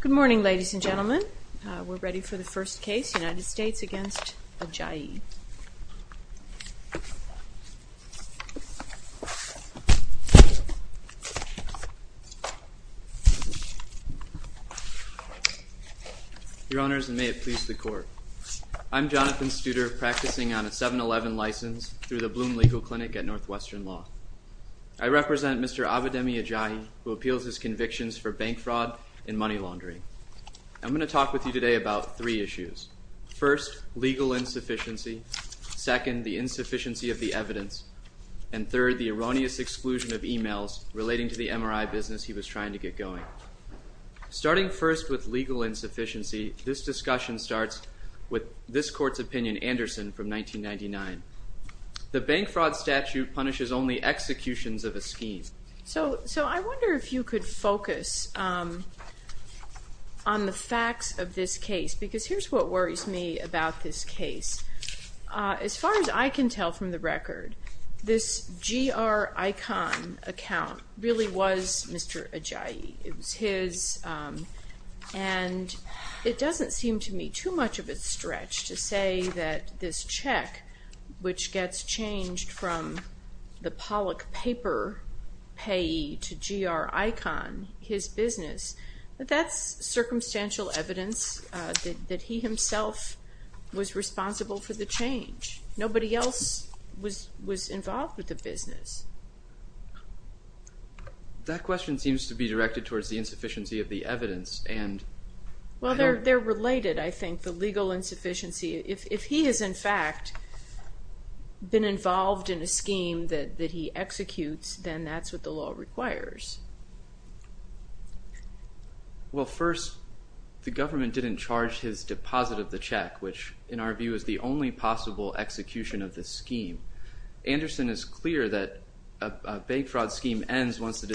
Good morning ladies and gentlemen. We're ready for the first case United States against Ajayi. Your honors and may it please the court. I'm Jonathan Studer practicing on a 7-11 license through the Bloom Legal Clinic at Northwestern Law. I represent Mr. Abidemi Ajayi who appeals his convictions for bank fraud and money laundering. I'm going to talk with you today about three issues. First, legal insufficiency. Second, the insufficiency of the evidence. And third, the erroneous exclusion of emails relating to the MRI business he was trying to get going. Starting first with legal insufficiency, this discussion starts with this court's opinion, Anderson from 1999. The bank fraud statute punishes only executions of a scheme. So I wonder if you could focus on the facts of this case because here's what worries me about this case. As far as I can tell from the record, this GR icon account really was Mr. Ajayi. It was his and it doesn't seem to me too much of a stretch to say that this check which gets changed from the Pollock paper payee to GR icon, his business, but that's circumstantial evidence that he himself was responsible for the change. Nobody else was involved with the business. That question seems to be directed towards the insufficiency of the evidence and... Well, they're related, I think, the legal insufficiency. If he has, in fact, been involved in a scheme that he executes, then that's what the law requires. Well, first, the government didn't charge his deposit of the check, which in our view is the only possible execution of this scheme. Anderson is clear that a bank fraud scheme ends once the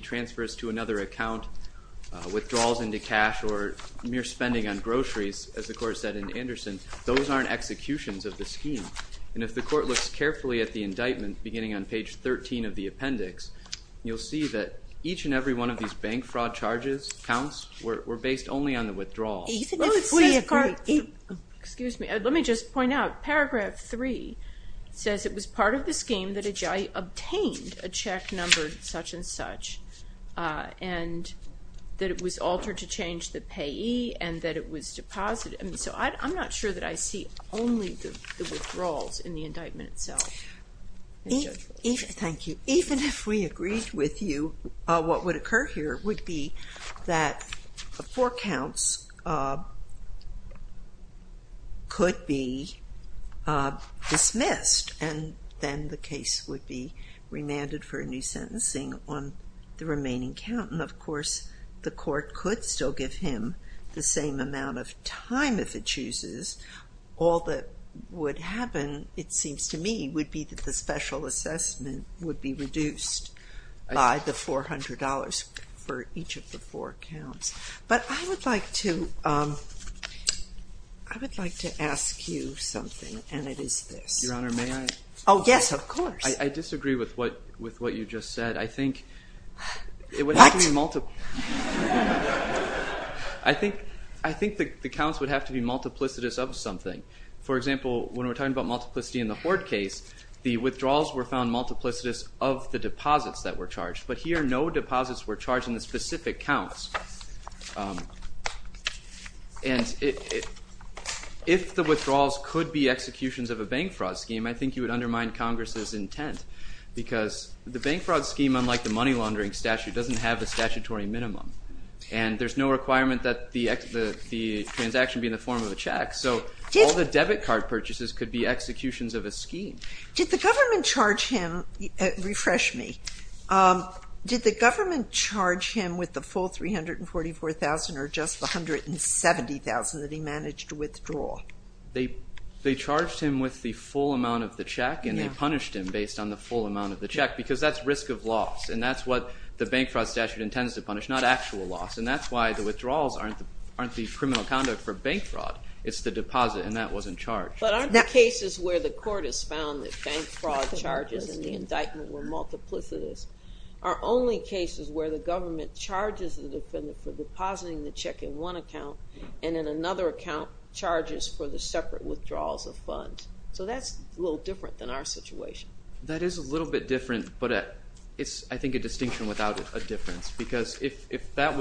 transfers to another account, withdrawals into cash, or mere spending on groceries, as the court said in Anderson, those aren't executions of the scheme. And if the court looks carefully at the indictment beginning on page 13 of the appendix, you'll see that each and every one of these bank fraud charges, counts, were based only on the withdrawal. Excuse me, let me just point out, paragraph 3 says it was part of the scheme that Ajayi obtained a check numbered such and such, and that it was altered to change the payee, and that it was deposited. So I'm not sure that I see only the withdrawals in the indictment itself. Thank you. Even if we agreed with you, what would occur here would be that four counts could be dismissed, and then the case would be remanded for a new sentencing on the remaining count. And of course, the court could still give him the same amount of time if it chooses. All that would happen, it seems to me, would be that the special assessment would be reduced by the $400 for each of the four counts. But I would like to ask you something, and it is this. Your Honor, may I? Oh, yes, of course. I disagree with what you just said. I think it would have to be multiple. I think the counts would have to be multiplicitous of something. For example, when we're talking about multiplicity in the Hoard case, the withdrawals were found multiplicitous of the deposits were charged in the specific counts. And if the withdrawals could be executions of a bank fraud scheme, I think you would undermine Congress's intent, because the bank fraud scheme, unlike the money laundering statute, doesn't have a statutory minimum. And there's no requirement that the transaction be in the form of a check. So all the debit card purchases could be executions of a scheme. Did the government charge him, refresh me, did the government charge him with the full $344,000 or just the $170,000 that he managed to withdraw? They charged him with the full amount of the check and they punished him based on the full amount of the check, because that's risk of loss. And that's what the bank fraud statute intends to punish, not actual loss. And that's why the withdrawals aren't the criminal conduct for bank fraud. It's the deposit, and that wasn't charged. But aren't the cases where the court has found that bank fraud charges in the indictment were multiplicitous are only cases where the government charges the defendant for depositing the check in one account, and in another account, charges for the separate withdrawals of funds. So that's a little different than our situation. That is a little bit different, but it's, I think, a distinction without a difference. Because if that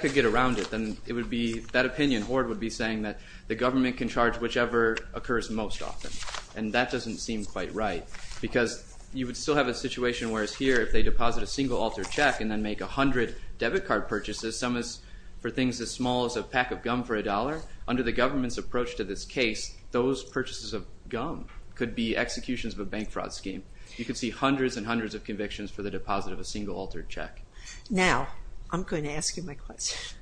could get around it, then it would be, that opinion, Hoard would be saying that the government can charge whichever occurs most often. And that doesn't seem quite right, because you would still have a situation where it's here, if they deposit a single altered check and then make 100 debit card purchases, some is for things as small as a pack of gum for $1. Under the government's approach to this case, those purchases of gum could be executions of a bank fraud scheme. You could see hundreds and hundreds of convictions for the deposit of a single altered check. Now, I'm going to ask you my question.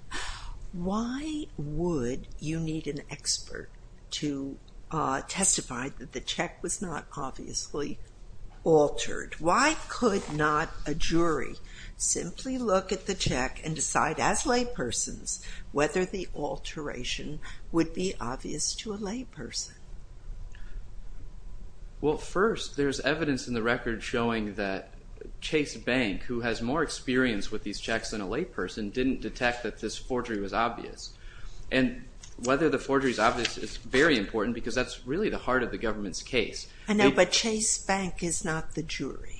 Why would you need an expert to testify that the check was not obviously altered? Why could not a jury simply look at the check and decide, as laypersons, whether the alteration would be obvious to a layperson? Well, first, there's evidence in the record showing that Chase Bank, who has more experience with these checks than a layperson, didn't detect that this forgery was obvious. And whether the forgery is obvious is very important, because that's really the heart of the government's case. I know, but Chase Bank is not the jury.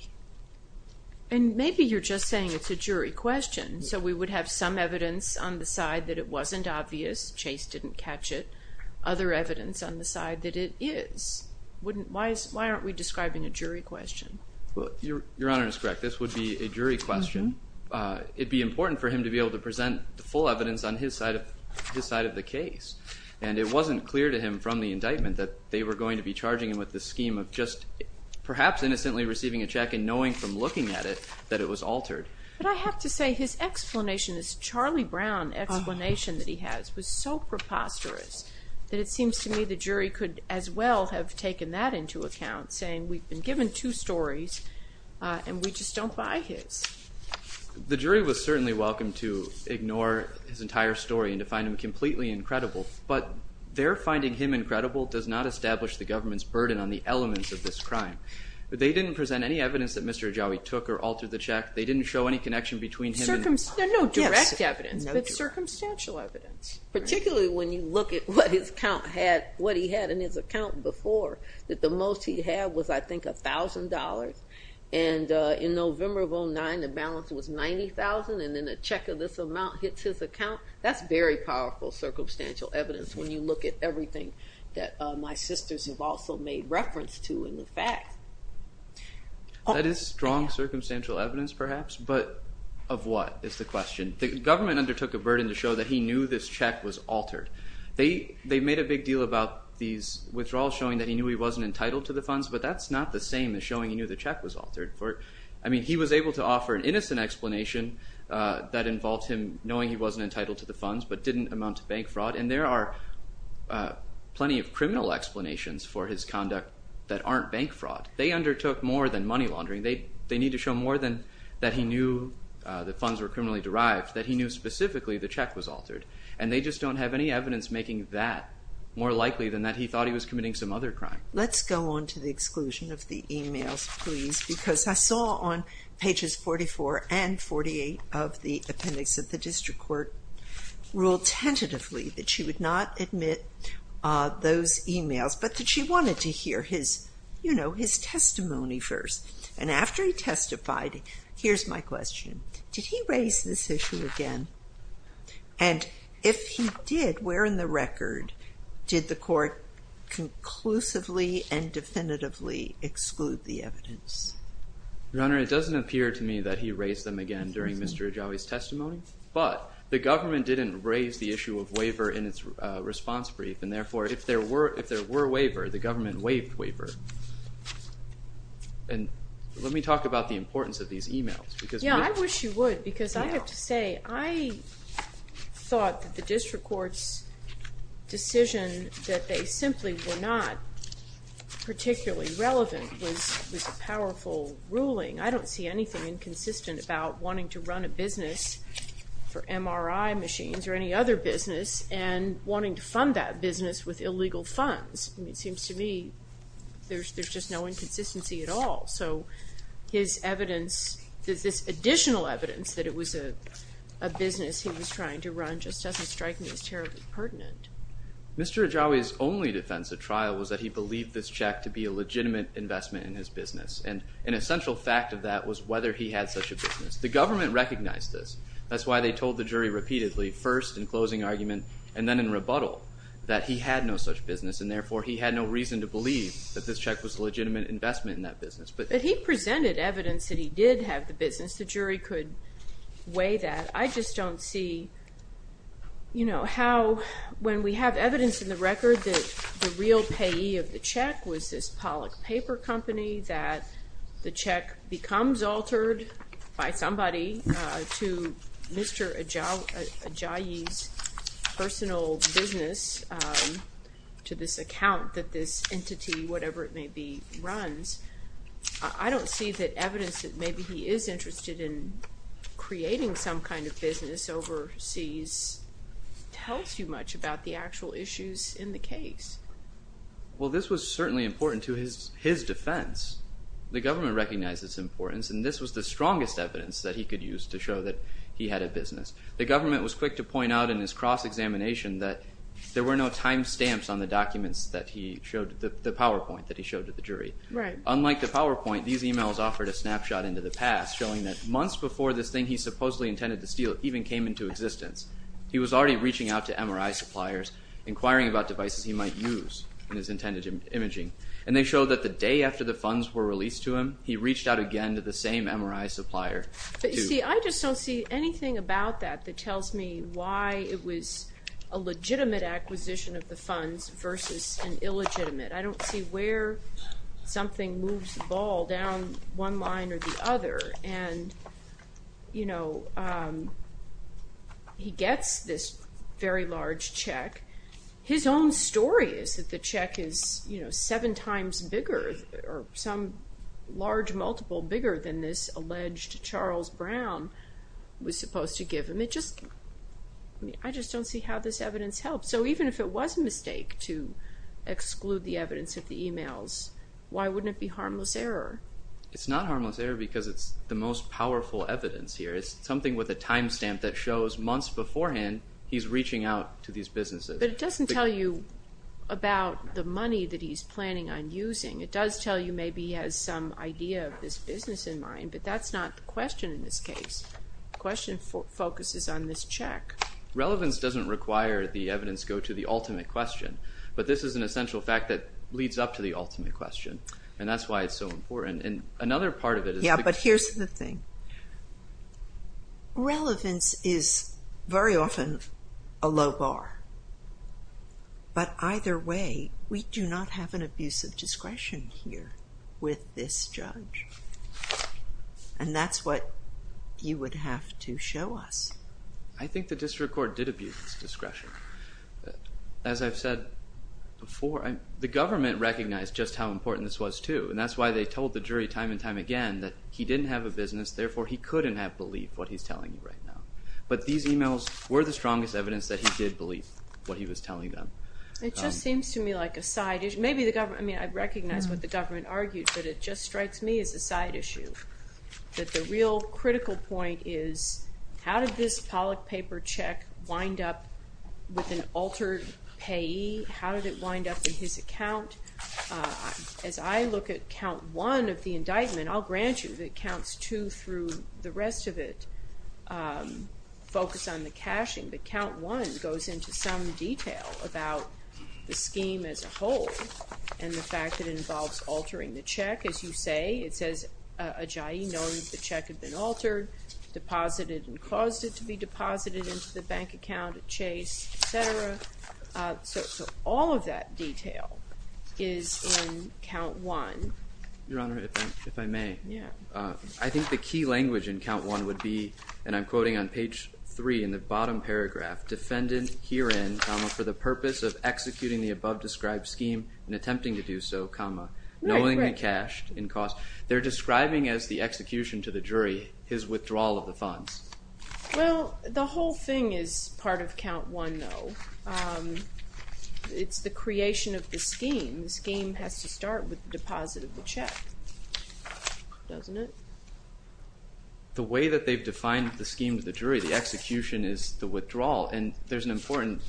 And maybe you're just saying it's a jury question. So we would have some evidence on the side that it wasn't obvious, Chase didn't catch it, other evidence on the side that it is. Why aren't we describing a jury question? Your Honor is correct. This would be a jury question. It'd be important for him to be able to present the full evidence on his side of the case. And it wasn't clear to him from the indictment that they were going to be charging him with the scheme of just perhaps innocently receiving a check and knowing from looking at it that it was altered. But I have to say his explanation, this Charlie Brown explanation that he has, was so preposterous that it seems to me the jury could as well have taken that into account, saying we've been given two stories and we just don't buy his. The jury was certainly welcome to ignore his entire story and to find him completely incredible. But their finding him incredible does not establish the government's burden on the elements of this crime. They didn't present any evidence that Mr. Ajawi took or altered the check. They didn't show any connection between him and the... No direct evidence, but circumstantial evidence. Particularly when you look at what his account had, what he had in his account before, that the most he had was, I think, $1,000. And in November of 09, the balance was $90,000. And then a check of this amount hits his account. That's very powerful circumstantial evidence when you look at everything that my sisters have also made reference to in the facts. That is strong circumstantial evidence perhaps, but of what is the question? The government undertook a burden to show that he knew this check was altered. They made a big deal about these withdrawals showing that he knew he wasn't entitled to the funds, but that's not the same as showing he knew the check was altered. I mean, he was able to offer an innocent explanation that involved him knowing he wasn't entitled to the funds, but didn't amount to bank fraud. And there are plenty of criminal explanations for his conduct that aren't bank fraud. They undertook more than money laundering. They need to show more than that he knew the funds were criminally derived, that he knew specifically the check was altered. And they just don't have any evidence making that more likely than that he thought he was committing some other crime. Let's go on to the exclusion of the emails, please, because I saw on pages 44 and 48 of the appendix of the district court ruled tentatively that she would not admit those emails, but that she wanted to hear his, you know, his testimony first. And after he testified, here's my question. Did he raise this issue again? And if he did, where in the record did the court conclusively and definitively exclude the evidence? Your Honor, it doesn't appear to me that he raised them again during Mr. Ajawi's testimony, but the government didn't raise the issue of waiver in its response brief, and therefore, if there were a waiver, the government waived waiver. And let me talk about the importance of these emails, because... Yeah, I wish you would, because I have to say, I thought that the district court's decision that they simply were not particularly relevant was a powerful ruling. I don't see anything inconsistent about wanting to run a business for MRI machines or any other business and wanting to fund that business with illegal funds. It seems to me there's just no inconsistency at all. So his evidence, this additional evidence that it was a business he was trying to run just doesn't strike me as terribly pertinent. Mr. Ajawi's only defense at trial was that he believed this check to be a legitimate investment in his business, and an essential fact of that was whether he had such a business. The government recognized this. That's why they told the jury repeatedly, first in closing argument and then in rebuttal, that he had no such business, and therefore, he had no reason to believe that this check was a legitimate investment in that business. But he presented evidence that he did have the business. The jury could weigh that. I just don't see how, when we have evidence in the record that the real payee of the check was this Pollack Paper Company, that the check becomes altered by somebody to Mr. Ajawi's personal business to this account that this entity, whatever it may be, runs. I don't see that evidence that maybe he is interested in creating some kind of business overseas tells you much about the actual issues in the case. Well this was certainly important to his defense. The government recognized its importance, and this was the strongest evidence that he could use to show that he had a business. The government was quick to point out in his cross-examination that there were no time stamps on the documents that he showed, the PowerPoint that he showed to the jury. Unlike the PowerPoint, these emails offered a snapshot into the past, showing that months before this thing he supposedly intended to steal even came into existence, he was already reaching out to MRI suppliers, inquiring about devices he might use in his intended imaging, and they showed that the day after the funds were released to him, he reached out again to the same MRI supplier. But you see, I just don't see anything about that that tells me why it was a legitimate acquisition of the funds versus an illegitimate. I don't see where something moves the ball down one line or the other, and you know, he gets this very large check. His own story is that the check is, you know, seven times bigger, or some large multiple bigger than this alleged Charles Brown was supposed to give him. It just, I mean, I just don't see how this evidence helps. So even if it was a mistake to exclude the evidence of the emails, why wouldn't it be harmless error? It's not harmless error because it's the most powerful evidence here. It's something with a time stamp that shows months beforehand he's reaching out to these businesses. But it doesn't tell you about the money that he's planning on using. It does tell you maybe he has some idea of this business in mind, but that's not the question in this case. The question focuses on this check. Relevance doesn't require the evidence go to the ultimate question, but this is an essential fact that leads up to the ultimate question, and that's why it's so important. And another part of it is... Yeah, but here's the thing. Relevance is very often a low bar. But either way, we do not have an abuse of discretion here with this judge. And that's what you would have to show us. I think the district court did abuse its discretion. As I've said before, the government recognized just how important this was too, and that's why they told the jury time and time again that he didn't have a business, therefore he couldn't have believed what he's telling you right now. But these emails were the strongest evidence that he did believe what he was telling them. It just seems to me like a side issue. Maybe the government, I mean, I recognize what the government argued, but it just strikes me as a side issue. That the real critical point is how did this Pollack paper check wind up with an altered payee? How did it wind up in his account? As I look at count one of the indictment, I'll grant you that counts two through the rest of it focus on the cashing, but count one goes into some detail about the scheme as a whole and the fact that it involves altering the check. As you say, it says a JIA knows the check had been altered, deposited and caused it to be deposited into the bank account at Chase, etc. So all of that detail is in count one. Your Honor, if I may, I think the key language in count one would be, and I'm quoting on the screen, they're describing as the execution to the jury his withdrawal of the funds. Well, the whole thing is part of count one though. It's the creation of the scheme. The scheme has to start with the deposit of the check, doesn't it? The way that they've defined the scheme to the jury, the execution is the withdrawal and there's an important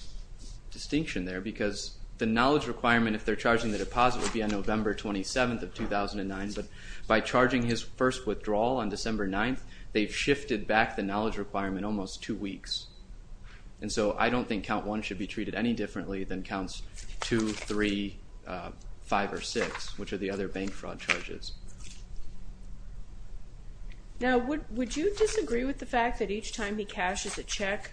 distinction there because the knowledge requirement if they're charging the deposit would be on November 27th of 2009, but by charging his first withdrawal on December 9th, they've shifted back the knowledge requirement almost two weeks. And so I don't think count one should be treated any differently than counts two, three, five or six, which are the other bank fraud charges. Now, would you disagree with the fact that each time he cashes a check,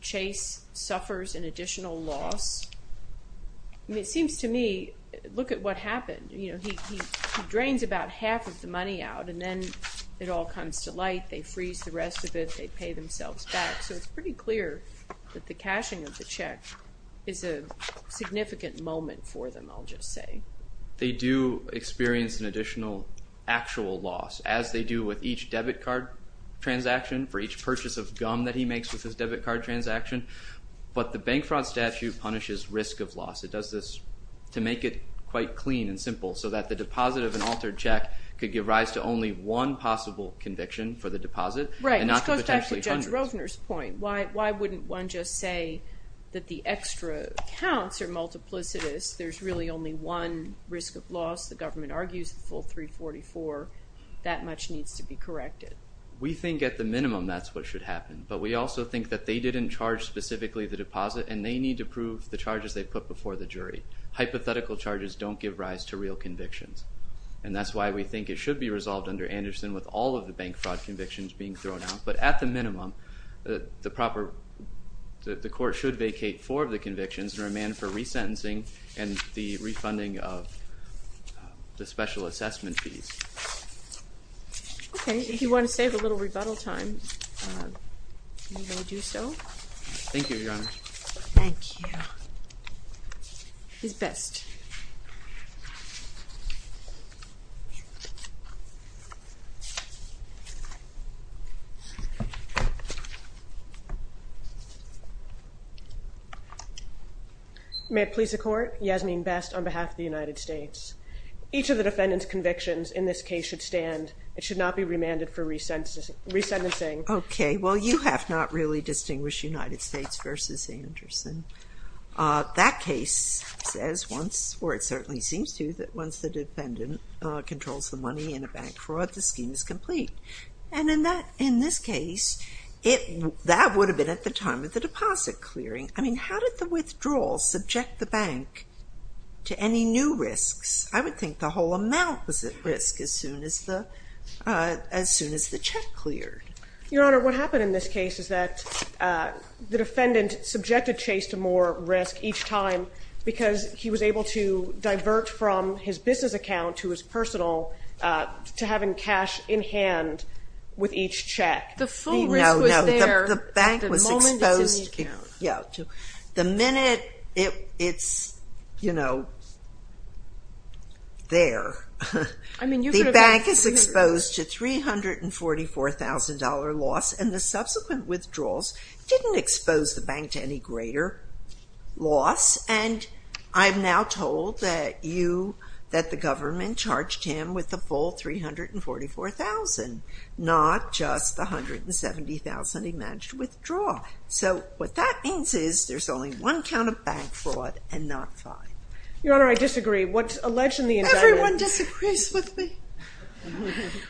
Chase suffers an additional loss? It seems to me, look at what happened. He drains about half of the money out and then it all comes to light. They freeze the rest of it. They pay themselves back. So it's pretty clear that the cashing of the check is a significant moment for them, I'll just say. They do experience an additional actual loss, as they do with each debit card transaction, for each purchase of gum that he makes with his debit card transaction. But the bank fraud statute punishes risk of loss. It does this to make it quite clean and simple so that the deposit of an altered check could give rise to only one possible conviction for the deposit and not the potentially hundreds. Right. This goes back to Judge Rovner's point. Why wouldn't one just say that the extra counts are multiplicitous? There's really only one risk of loss. The government argues the full 344. That much needs to be corrected. We think at the minimum that's what should happen. But we also think that they didn't charge specifically the deposit and they need to prove the charges they put before the jury. Hypothetical charges don't give rise to real convictions. And that's why we think it should be resolved under Anderson with all of the bank fraud convictions being thrown out. But at the minimum, the court should vacate four of the convictions and remand for resentencing and the refunding of the special assessment fees. Okay. If you want to save a little rebuttal time, you may do so. Thank you, Your Honor. Thank you. He's best. May it please the Court, Yasmeen Best on behalf of the United States. Each of the defendant's convictions in this case should stand. It should not be remanded for resentencing. Okay. Well, you have not really distinguished United States versus Anderson. That case says once, or it certainly seems to, that once the defendant controls the money in a bank fraud, the scheme is complete. And in this case, that would have been at the time of the deposit clearing. I mean, how did the withdrawal subject the bank to any new risks? I would think the whole amount was at risk as soon as the check cleared. Your Honor, what happened in this case is that the defendant subjected Chase to more risk each time because he was able to divert from his business account to his personal to having cash in hand with each check. The full risk was there at the moment it's in the account. Yeah. The minute it's, you know, there, the bank is exposed to $344,000 loss, and the subsequent withdrawals didn't expose the bank to any greater loss. And I'm now told that the government charged him with the full $344,000, not just the $170,000 he managed to withdraw. So what that means is there's only one count of bank fraud and not five. Your Honor, I disagree. What's alleged in the indictment Everyone disagrees with me.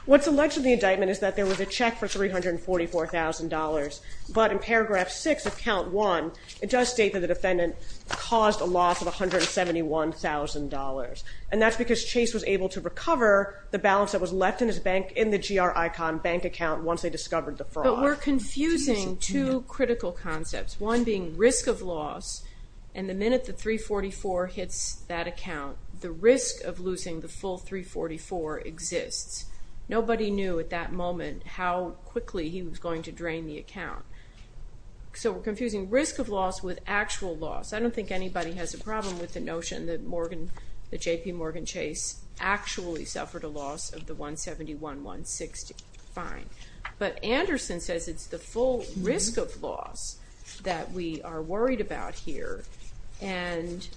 What's alleged in the indictment is that there was a check for $344,000, but in paragraph six of count one, it does state that the defendant caused a loss of $171,000. And that's because Chase was able to recover the balance that was left in his bank, in the GR-ICON bank account once they discovered the fraud. But we're confusing two critical concepts, one being risk of loss, and the minute the $344,000 hits that account, the risk of losing the full $344,000 exists. Nobody knew at that So we're confusing risk of loss with actual loss. I don't think anybody has a problem with the notion that J.P. Morgan Chase actually suffered a loss of the $171,160. Fine. But Anderson says it's the full risk of loss that we are worried about here. And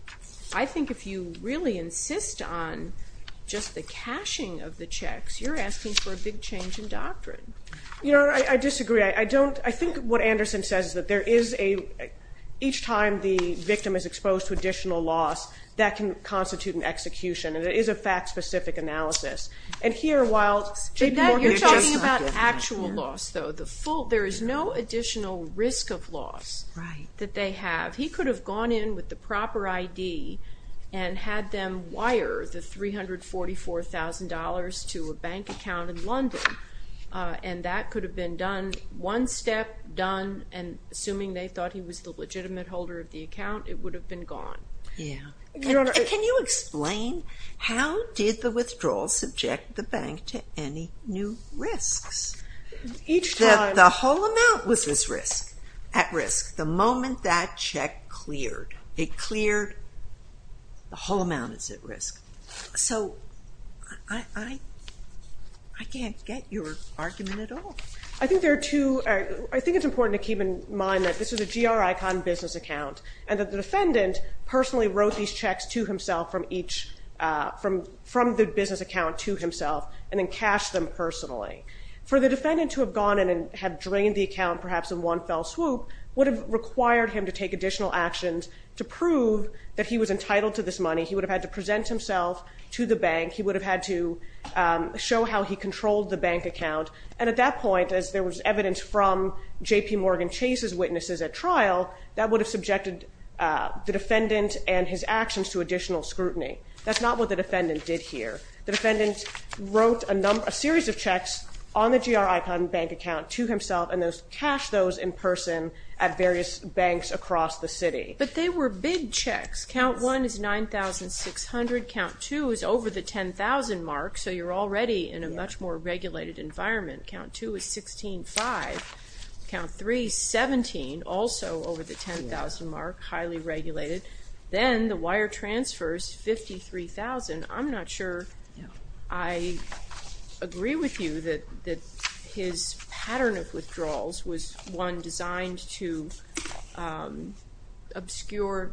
I think if you really insist on just the cashing of the checks, you're asking for a big change in doctrine. You know, I disagree. I don't, I think what Anderson says is that there is a, each time the victim is exposed to additional loss, that can constitute an execution. And it is a fact-specific analysis. And here, while J.P. Morgan You're talking about actual loss, though. The full, there is no additional risk of loss that they have. He could have gone in with the proper ID and had them wire the $344,000 to a bank account in London. And that could have been done, one step, done, and assuming they thought he was the legitimate holder of the account, it would have been gone. Yeah. Can you explain how did the withdrawal subject the bank to any new risks? Each time. The whole amount was at risk, the moment that check cleared. It cleared, the whole amount is at risk. So I can't get your argument at all. I think there are two, I think it's important to keep in mind that this is a GR icon business account, and that the defendant personally wrote these checks to himself from each, from the business account to himself, and then cashed them personally. For the defendant to have gone in and have drained the account, perhaps in one fell swoop, would have required him to take additional actions to prove that he was entitled to this money. He would have had to present himself to the bank, he would have had to show how he controlled the bank account, and at that point, as there was evidence from JPMorgan Chase's witnesses at trial, that would have subjected the defendant and his actions to additional scrutiny. That's not what the defendant did here. The defendant wrote a number, a series of checks on the GR icon bank account to himself, and then cashed those in person at various banks across the city. But they were big checks. Count 1 is $9,600, count 2 is over the $10,000 mark, so you're already in a much more regulated environment. Count 2 is $16,500. Count 3, $17,000, also over the $10,000 mark, highly regulated. Then the wire transfers, $53,000. I'm not sure I agree with you that his pattern of withdrawals was one designed to obscure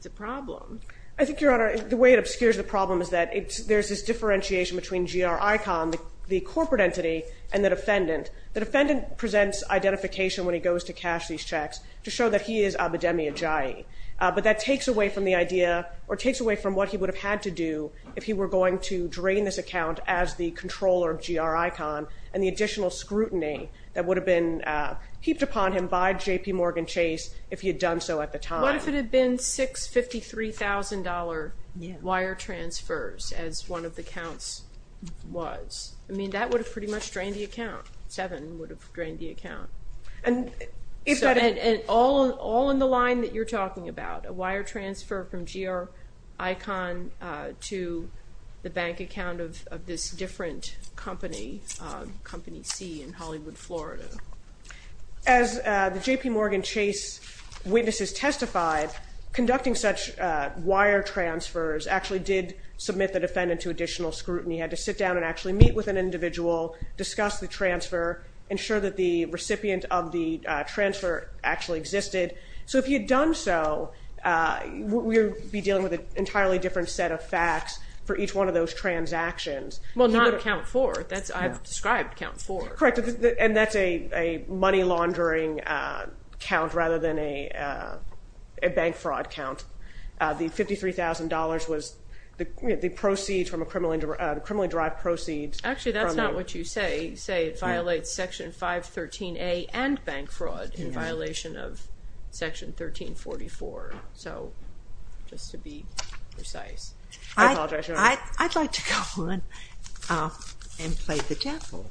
the problem. I think, Your Honor, the way it obscures the problem is that there's this differentiation between GR icon, the corporate entity, and the defendant. The defendant presents identification when he goes to cash these checks to show that he is Abedemi Ajayi, but that takes away from the idea, or takes away from what he would have had to do if he were going to drain this account as the controller of GR icon, and the additional scrutiny that would have been heaped upon him by JPMorgan Chase if he had done so at the time. What if it had been six $53,000 wire transfers, as one of the counts was? I mean, that would have pretty much drained the account. Seven would have drained the account. And all in the line that you're talking about, a wire transfer from GR icon to the bank account of this different company, Company C in Hollywood, Florida. As the JPMorgan Chase witnesses testified, conducting such wire transfers actually did submit the defendant to additional scrutiny. He had to sit down and actually meet with an individual, discuss the transfer, ensure that the recipient of the transfer actually existed. So if he had done so, we would be dealing with an entirely different set of facts for each one of those transactions. Well, not account four. I've described account four. Correct. And that's a money laundering count rather than a bank fraud count. The $53,000 was the proceeds from a criminally derived proceeds. Actually, that's not what you say. You say it violates Section 513A and bank fraud in violation of Section 1344. So just to be precise. I'd like to go on and play the devil.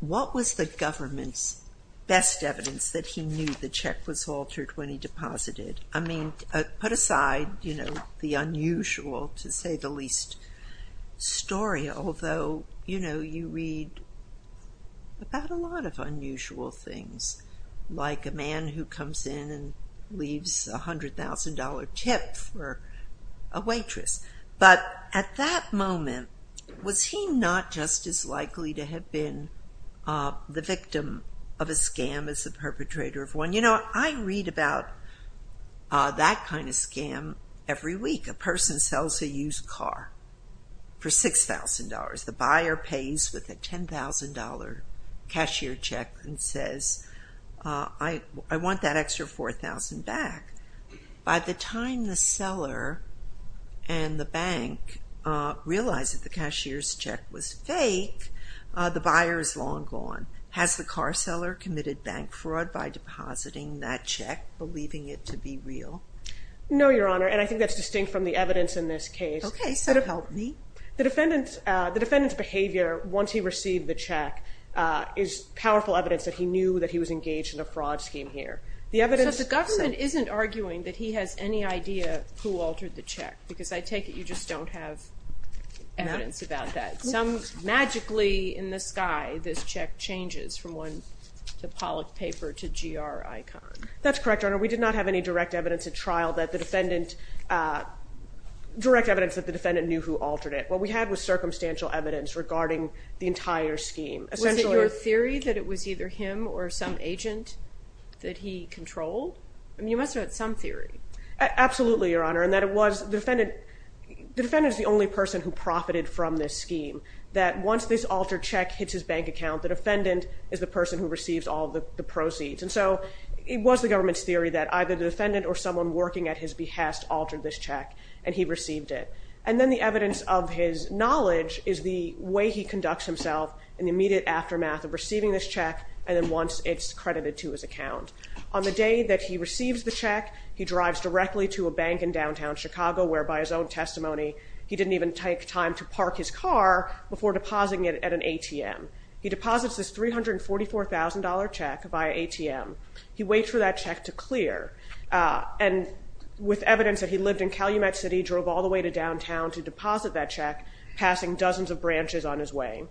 What was the government's best evidence that he knew the check was altered when he deposited? I mean, put aside the unusual, to say the least, story, although you read about a lot of unusual things, like a man who comes in and leaves a $100,000 tip for a waitress. But at that moment, was he not just as likely to have been the victim of a scam as the perpetrator of one? You know, I read about that kind of scam every week. A person sells a used car for $6,000. The buyer pays with a $10,000 cashier check and says, I want that extra $4,000 back. By the time the seller and the bank realize that the cashier's check was fake, the buyer is long gone. Has the car seller committed bank fraud by depositing that check, believing it to be real? No, Your Honor, and I think that's distinct from the evidence in this case. Okay, so help me. The defendant's behavior, once he received the check, is powerful evidence that he knew that he was engaged in a fraud scheme here. So the government isn't arguing that he has any idea who altered the check? Because I take it you just don't have evidence about that. No. Magically, in the sky, this check changes from one to Pollock paper to GR icon. That's correct, Your Honor. We did not have any direct evidence at trial that the defendant knew who altered it. What we had was circumstantial evidence regarding the entire scheme. Was it your theory that it was either him or some agent that he controlled? I mean, you must have had some theory. Absolutely, Your Honor, and that it was the defendant. The defendant is the only person who profited from this scheme, that once this altered check hits his bank account, the defendant is the person who receives all the proceeds. And so it was the government's theory that either the defendant or someone working at his behest altered this check, and he received it. And then the evidence of his knowledge is the way he conducts himself in the immediate aftermath of receiving this check, and then once it's credited to his account. On the day that he receives the check, he drives directly to a bank in downtown Chicago, where, by his own testimony, he didn't even take time to park his car before depositing it at an ATM. He deposits this $344,000 check via ATM. He waits for that check to clear. And with evidence that he lived in Calumet City, drove all the way to downtown to deposit that check, passing dozens of branches on his way.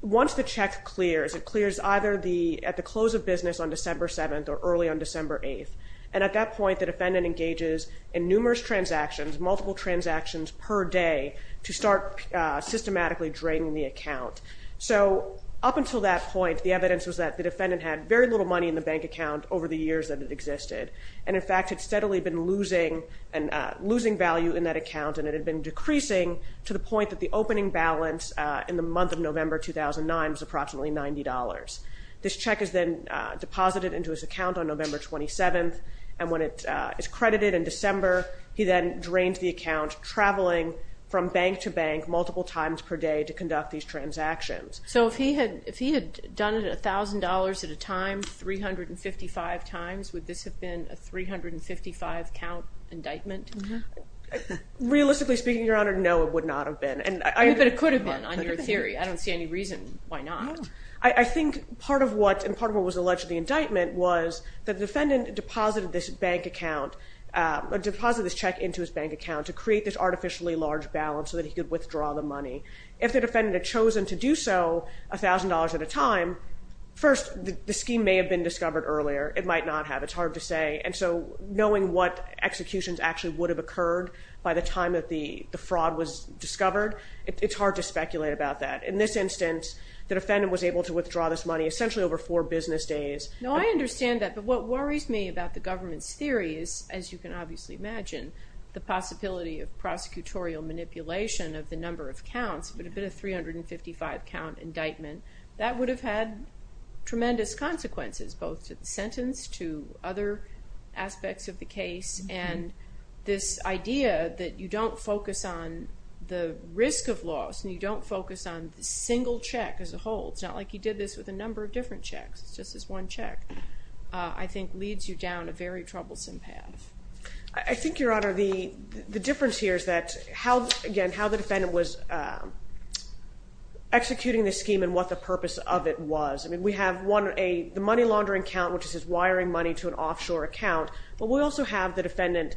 Once the check clears, it clears either at the close of business on December 7th or early on December 8th. And at that point, the defendant engages in numerous transactions, multiple transactions per day, to start systematically draining the account. So up until that point, the evidence was that the defendant had very little money in the bank account over the years that it existed. And, in fact, had steadily been losing value in that account, and it had been decreasing to the point that the opening balance in the month of November 2009 was approximately $90. This check is then deposited into his account on November 27th, and when it is credited in December, he then drains the account, traveling from bank to bank multiple times per day to conduct these transactions. So if he had done it $1,000 at a time, 355 times, would this have been a 355-count indictment? Realistically speaking, Your Honor, no, it would not have been. But it could have been, on your theory. I don't see any reason why not. I think part of what was alleged in the indictment was that the defendant deposited this bank account, deposited this check into his bank account to create this artificially large balance so that he could withdraw the money. If the defendant had chosen to do so $1,000 at a time, first, the scheme may have been discovered earlier. It might not have. It's hard to say. And so knowing what executions actually would have occurred by the time that the fraud was discovered, it's hard to speculate about that. In this instance, the defendant was able to withdraw this money essentially over four business days. No, I understand that. But what worries me about the government's theory is, as you can obviously imagine, the possibility of prosecutorial manipulation of the number of counts would have been a 355-count indictment. That would have had tremendous consequences both to the sentence, to other aspects of the case, and this idea that you don't focus on the risk of loss and you don't focus on the single check as a whole. It's not like you did this with a number of different checks. It's just this one check, I think, leads you down a very troublesome path. I think, Your Honor, the difference here is that, again, how the defendant was executing this scheme and what the purpose of it was. I mean, we have the money laundering count, which is his wiring money to an offshore account, but we also have the defendant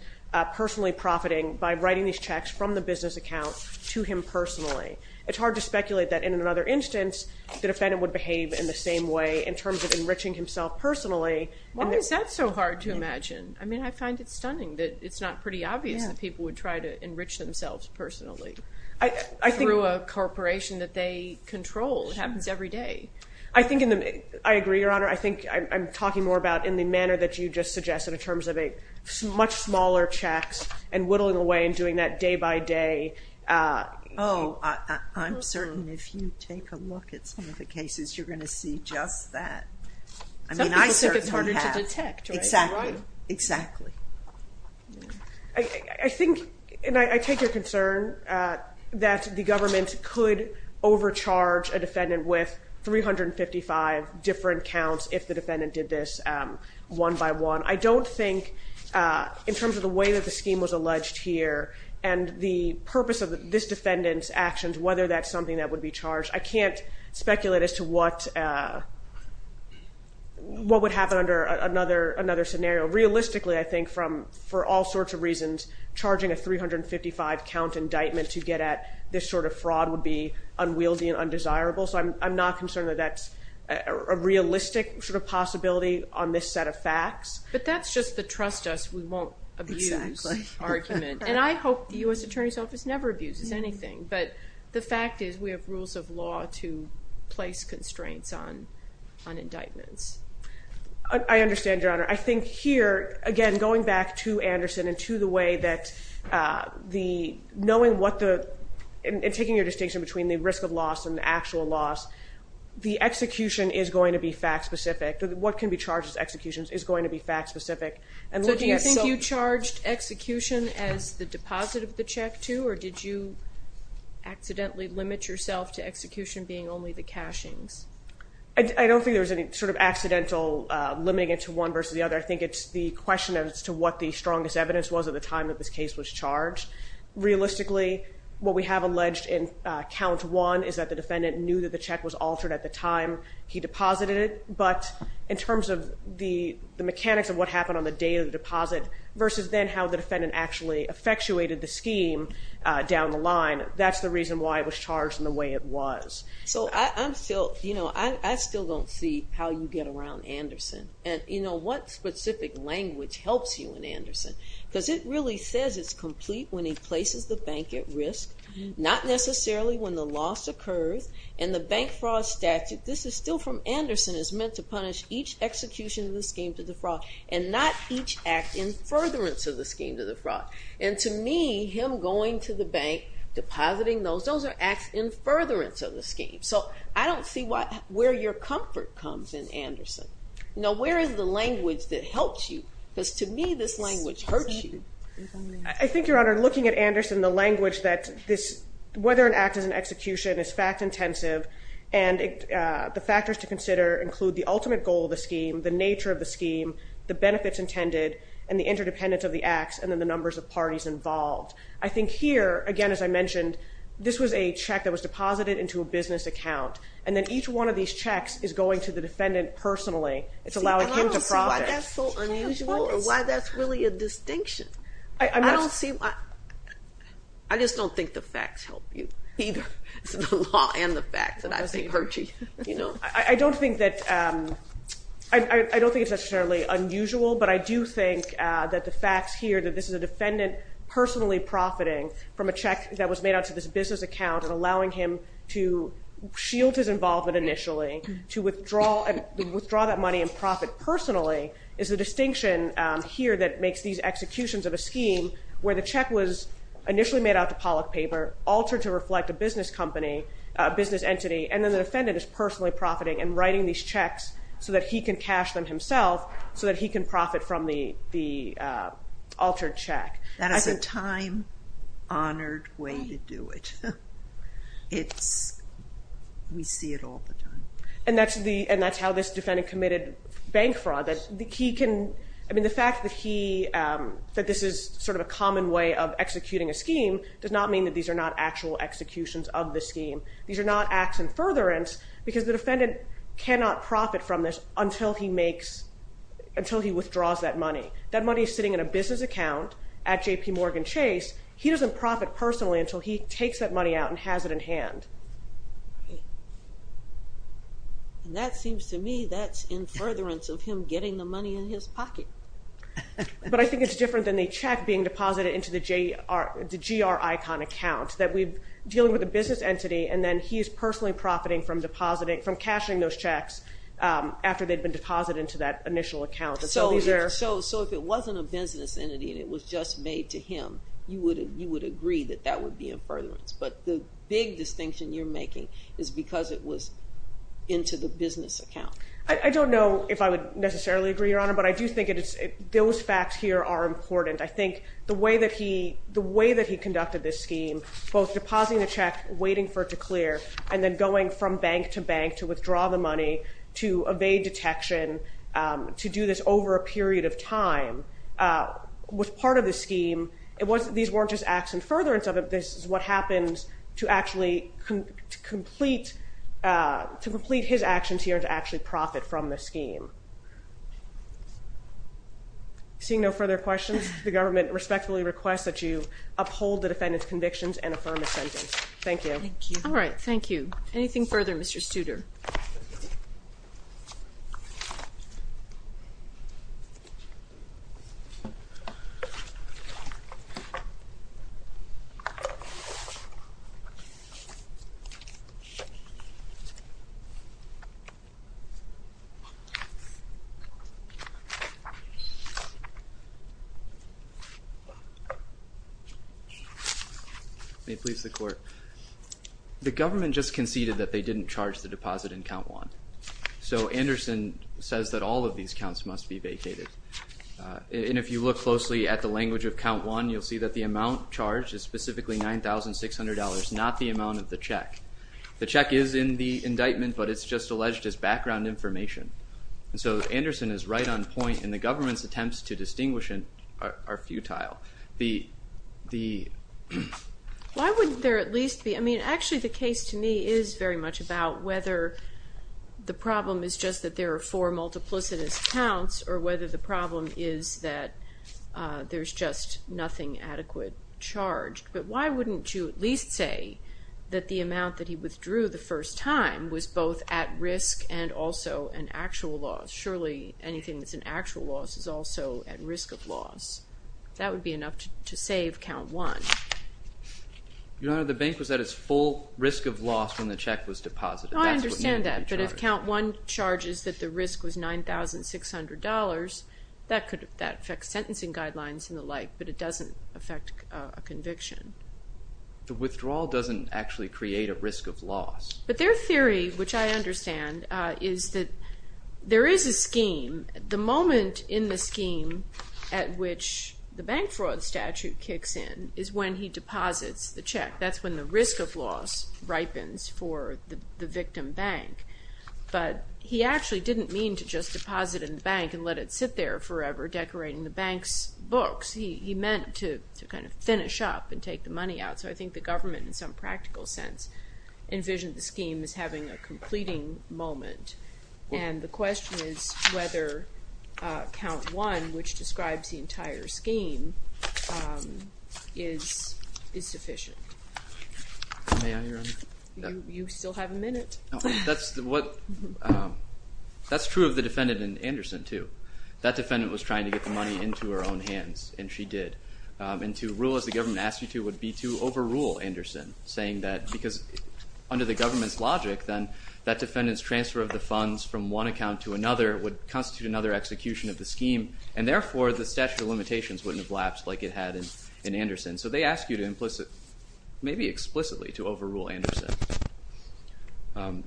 personally profiting by writing these checks from the business account to him personally. It's hard to speculate that in another instance the defendant would behave in the same way in terms of enriching himself personally. Why is that so hard to imagine? I mean, I find it stunning that it's not pretty obvious that people would try to enrich themselves personally through a corporation that they control. It happens every day. I agree, Your Honor. I think I'm talking more about in the manner that you just suggested in terms of much smaller checks and whittling away and doing that day by day. Oh, I'm certain if you take a look at some of the cases, you're going to see just that. Some people think it's harder to detect, right? Exactly, exactly. I think, and I take your concern, that the government could overcharge a defendant with 355 different counts if the defendant did this one by one. I don't think in terms of the way that the scheme was alleged here and the purpose of this defendant's actions, whether that's something that would be charged, I can't speculate as to what would happen under another scenario. Realistically, I think for all sorts of reasons, charging a 355-count indictment to get at this sort of fraud would be unwieldy and undesirable, so I'm not concerned that that's a realistic sort of possibility on this set of facts. But that's just the trust us, we won't abuse argument. And I hope the U.S. Attorney's Office never abuses anything, but the fact is we have rules of law to place constraints on indictments. I understand, Your Honor. I think here, again, going back to Anderson and to the way that knowing what the, and taking your distinction between the risk of loss and the actual loss, the execution is going to be fact-specific. What can be charged as executions is going to be fact-specific. So do you think you charged execution as the deposit of the check, too, or did you accidentally limit yourself to execution being only the cashings? I don't think there was any sort of accidental limiting it to one versus the other. I think it's the question as to what the strongest evidence was at the time that this case was charged. Realistically, what we have alleged in Count 1 is that the defendant knew that the check was altered at the time he deposited it. But in terms of the mechanics of what happened on the day of the deposit versus then how the defendant actually effectuated the scheme down the line, that's the reason why it was charged in the way it was. So I'm still, you know, I still don't see how you get around Anderson. And, you know, what specific language helps you in Anderson? Because it really says it's complete when he places the bank at risk, not necessarily when the loss occurs, and the bank fraud statute, this is still from Anderson, is meant to punish each execution of the scheme to defraud and not each act in furtherance of the scheme to defraud. And to me, him going to the bank, depositing those, those are acts in furtherance of the scheme. So I don't see where your comfort comes in Anderson. Now, where is the language that helps you? Because to me, this language hurts you. I think, Your Honor, looking at Anderson, the language that this, whether an act is an execution is fact-intensive, and the factors to consider include the ultimate goal of the scheme, the nature of the scheme, the benefits intended, and the interdependence of the acts, and then the numbers of parties involved. I think here, again, as I mentioned, this was a check that was deposited into a business account, and then each one of these checks is going to the defendant personally. It's allowing him to profit. See, but I don't see why that's so unusual or why that's really a distinction. I don't see why. I just don't think the facts help you either. It's the law and the facts that I think hurt you. I don't think that, I don't think it's necessarily unusual, but I do think that the facts here, that this is a defendant personally profiting from a check that was made out to this business account and allowing him to shield his involvement initially, to withdraw that money and profit personally, is the distinction here that makes these executions of a scheme where the check was initially made out to pollock paper, altered to reflect a business company, a business entity, and then the defendant is personally profiting and writing these checks so that he can cash them himself so that he can profit from the altered check. That is a time-honored way to do it. We see it all the time. And that's how this defendant committed bank fraud. The fact that this is sort of a common way of executing a scheme does not mean that these are not actual executions of the scheme. These are not acts in furtherance because the defendant cannot profit from this until he withdraws that money. That money is sitting in a business account at J.P. Morgan Chase. He doesn't profit personally until he takes that money out and has it in hand. That seems to me that's in furtherance of him getting the money in his pocket. But I think it's different than the check being deposited into the G.R. Icon account, that we're dealing with a business entity, and then he is personally profiting from cashing those checks after they've been deposited into that initial account. So if it wasn't a business entity and it was just made to him, you would agree that that would be in furtherance. But the big distinction you're making is because it was into the business account. I don't know if I would necessarily agree, Your Honor, but I do think those facts here are important. I think the way that he conducted this scheme, both depositing the check, waiting for it to clear, and then going from bank to bank to withdraw the money, to evade detection, to do this over a period of time, was part of the scheme. These weren't just acts in furtherance of it. This is what happens to actually complete his actions here and to actually profit from the scheme. Seeing no further questions, the government respectfully requests that you uphold the defendant's convictions and affirm his sentence. Thank you. Thank you. All right, thank you. Anything further, Mr. Studer? Thank you. May it please the Court. The government just conceded that they didn't charge the deposit in count one. So Anderson says that all of these counts must be vacated. And if you look closely at the language of count one, you'll see that the amount charged is specifically $9,600, not the amount of the check. The check is in the indictment, but it's just alleged as background information. And so Anderson is right on point, and the government's attempts to distinguish it are futile. Why wouldn't there at least be, I mean, actually the case to me is very much about whether the problem is just that there are four multiplicitous counts, or whether the problem is that there's just nothing adequate charged. But why wouldn't you at least say that the amount that he withdrew the first time was both at risk and also an actual loss? Surely anything that's an actual loss is also at risk of loss. That would be enough to save count one. Your Honor, the bank was at its full risk of loss when the check was deposited. I understand that, but if count one charges that the risk was $9,600, that affects sentencing guidelines and the like, but it doesn't affect a conviction. The withdrawal doesn't actually create a risk of loss. But their theory, which I understand, is that there is a scheme. The moment in the scheme at which the bank fraud statute kicks in is when he deposits the check. That's when the risk of loss ripens for the victim bank. But he actually didn't mean to just deposit in the bank and let it sit there forever decorating the bank's books. He meant to kind of finish up and take the money out. So I think the government, in some practical sense, envisioned the scheme as having a completing moment. And the question is whether count one, which describes the entire scheme, is sufficient. May I, Your Honor? You still have a minute. That's true of the defendant in Anderson, too. That defendant was trying to get the money into her own hands, and she did. And to rule as the government asked you to would be to overrule Anderson, saying that because under the government's logic, then that defendant's transfer of the funds from one account to another would constitute another execution of the scheme, and therefore the statute of limitations wouldn't have lapsed like it had in Anderson. So they ask you to implicitly, maybe explicitly, to overrule Anderson.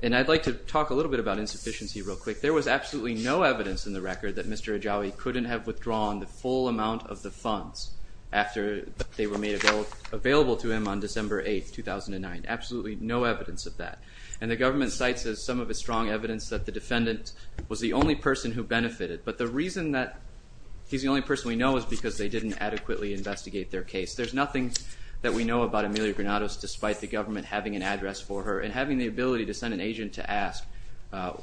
And I'd like to talk a little bit about insufficiency real quick. There was absolutely no evidence in the record that Mr. Ajawi couldn't have withdrawn the full amount of the funds after they were made available to him on December 8, 2009. Absolutely no evidence of that. And the government cites as some of its strong evidence that the defendant was the only person who benefited. But the reason that he's the only person we know is because they didn't adequately investigate their case. There's nothing that we know about Amelia Granados despite the government having an address for her and having the ability to send an agent to ask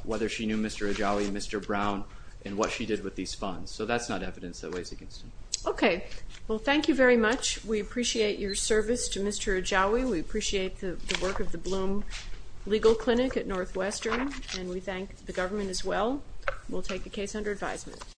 whether she knew Mr. Ajawi, Mr. Brown, and what she did with these funds. So that's not evidence that weighs against him. Okay. Well, thank you very much. We appreciate your service to Mr. Ajawi. We appreciate the work of the Bloom Legal Clinic at Northwestern, and we thank the government as well. We'll take the case under advisement.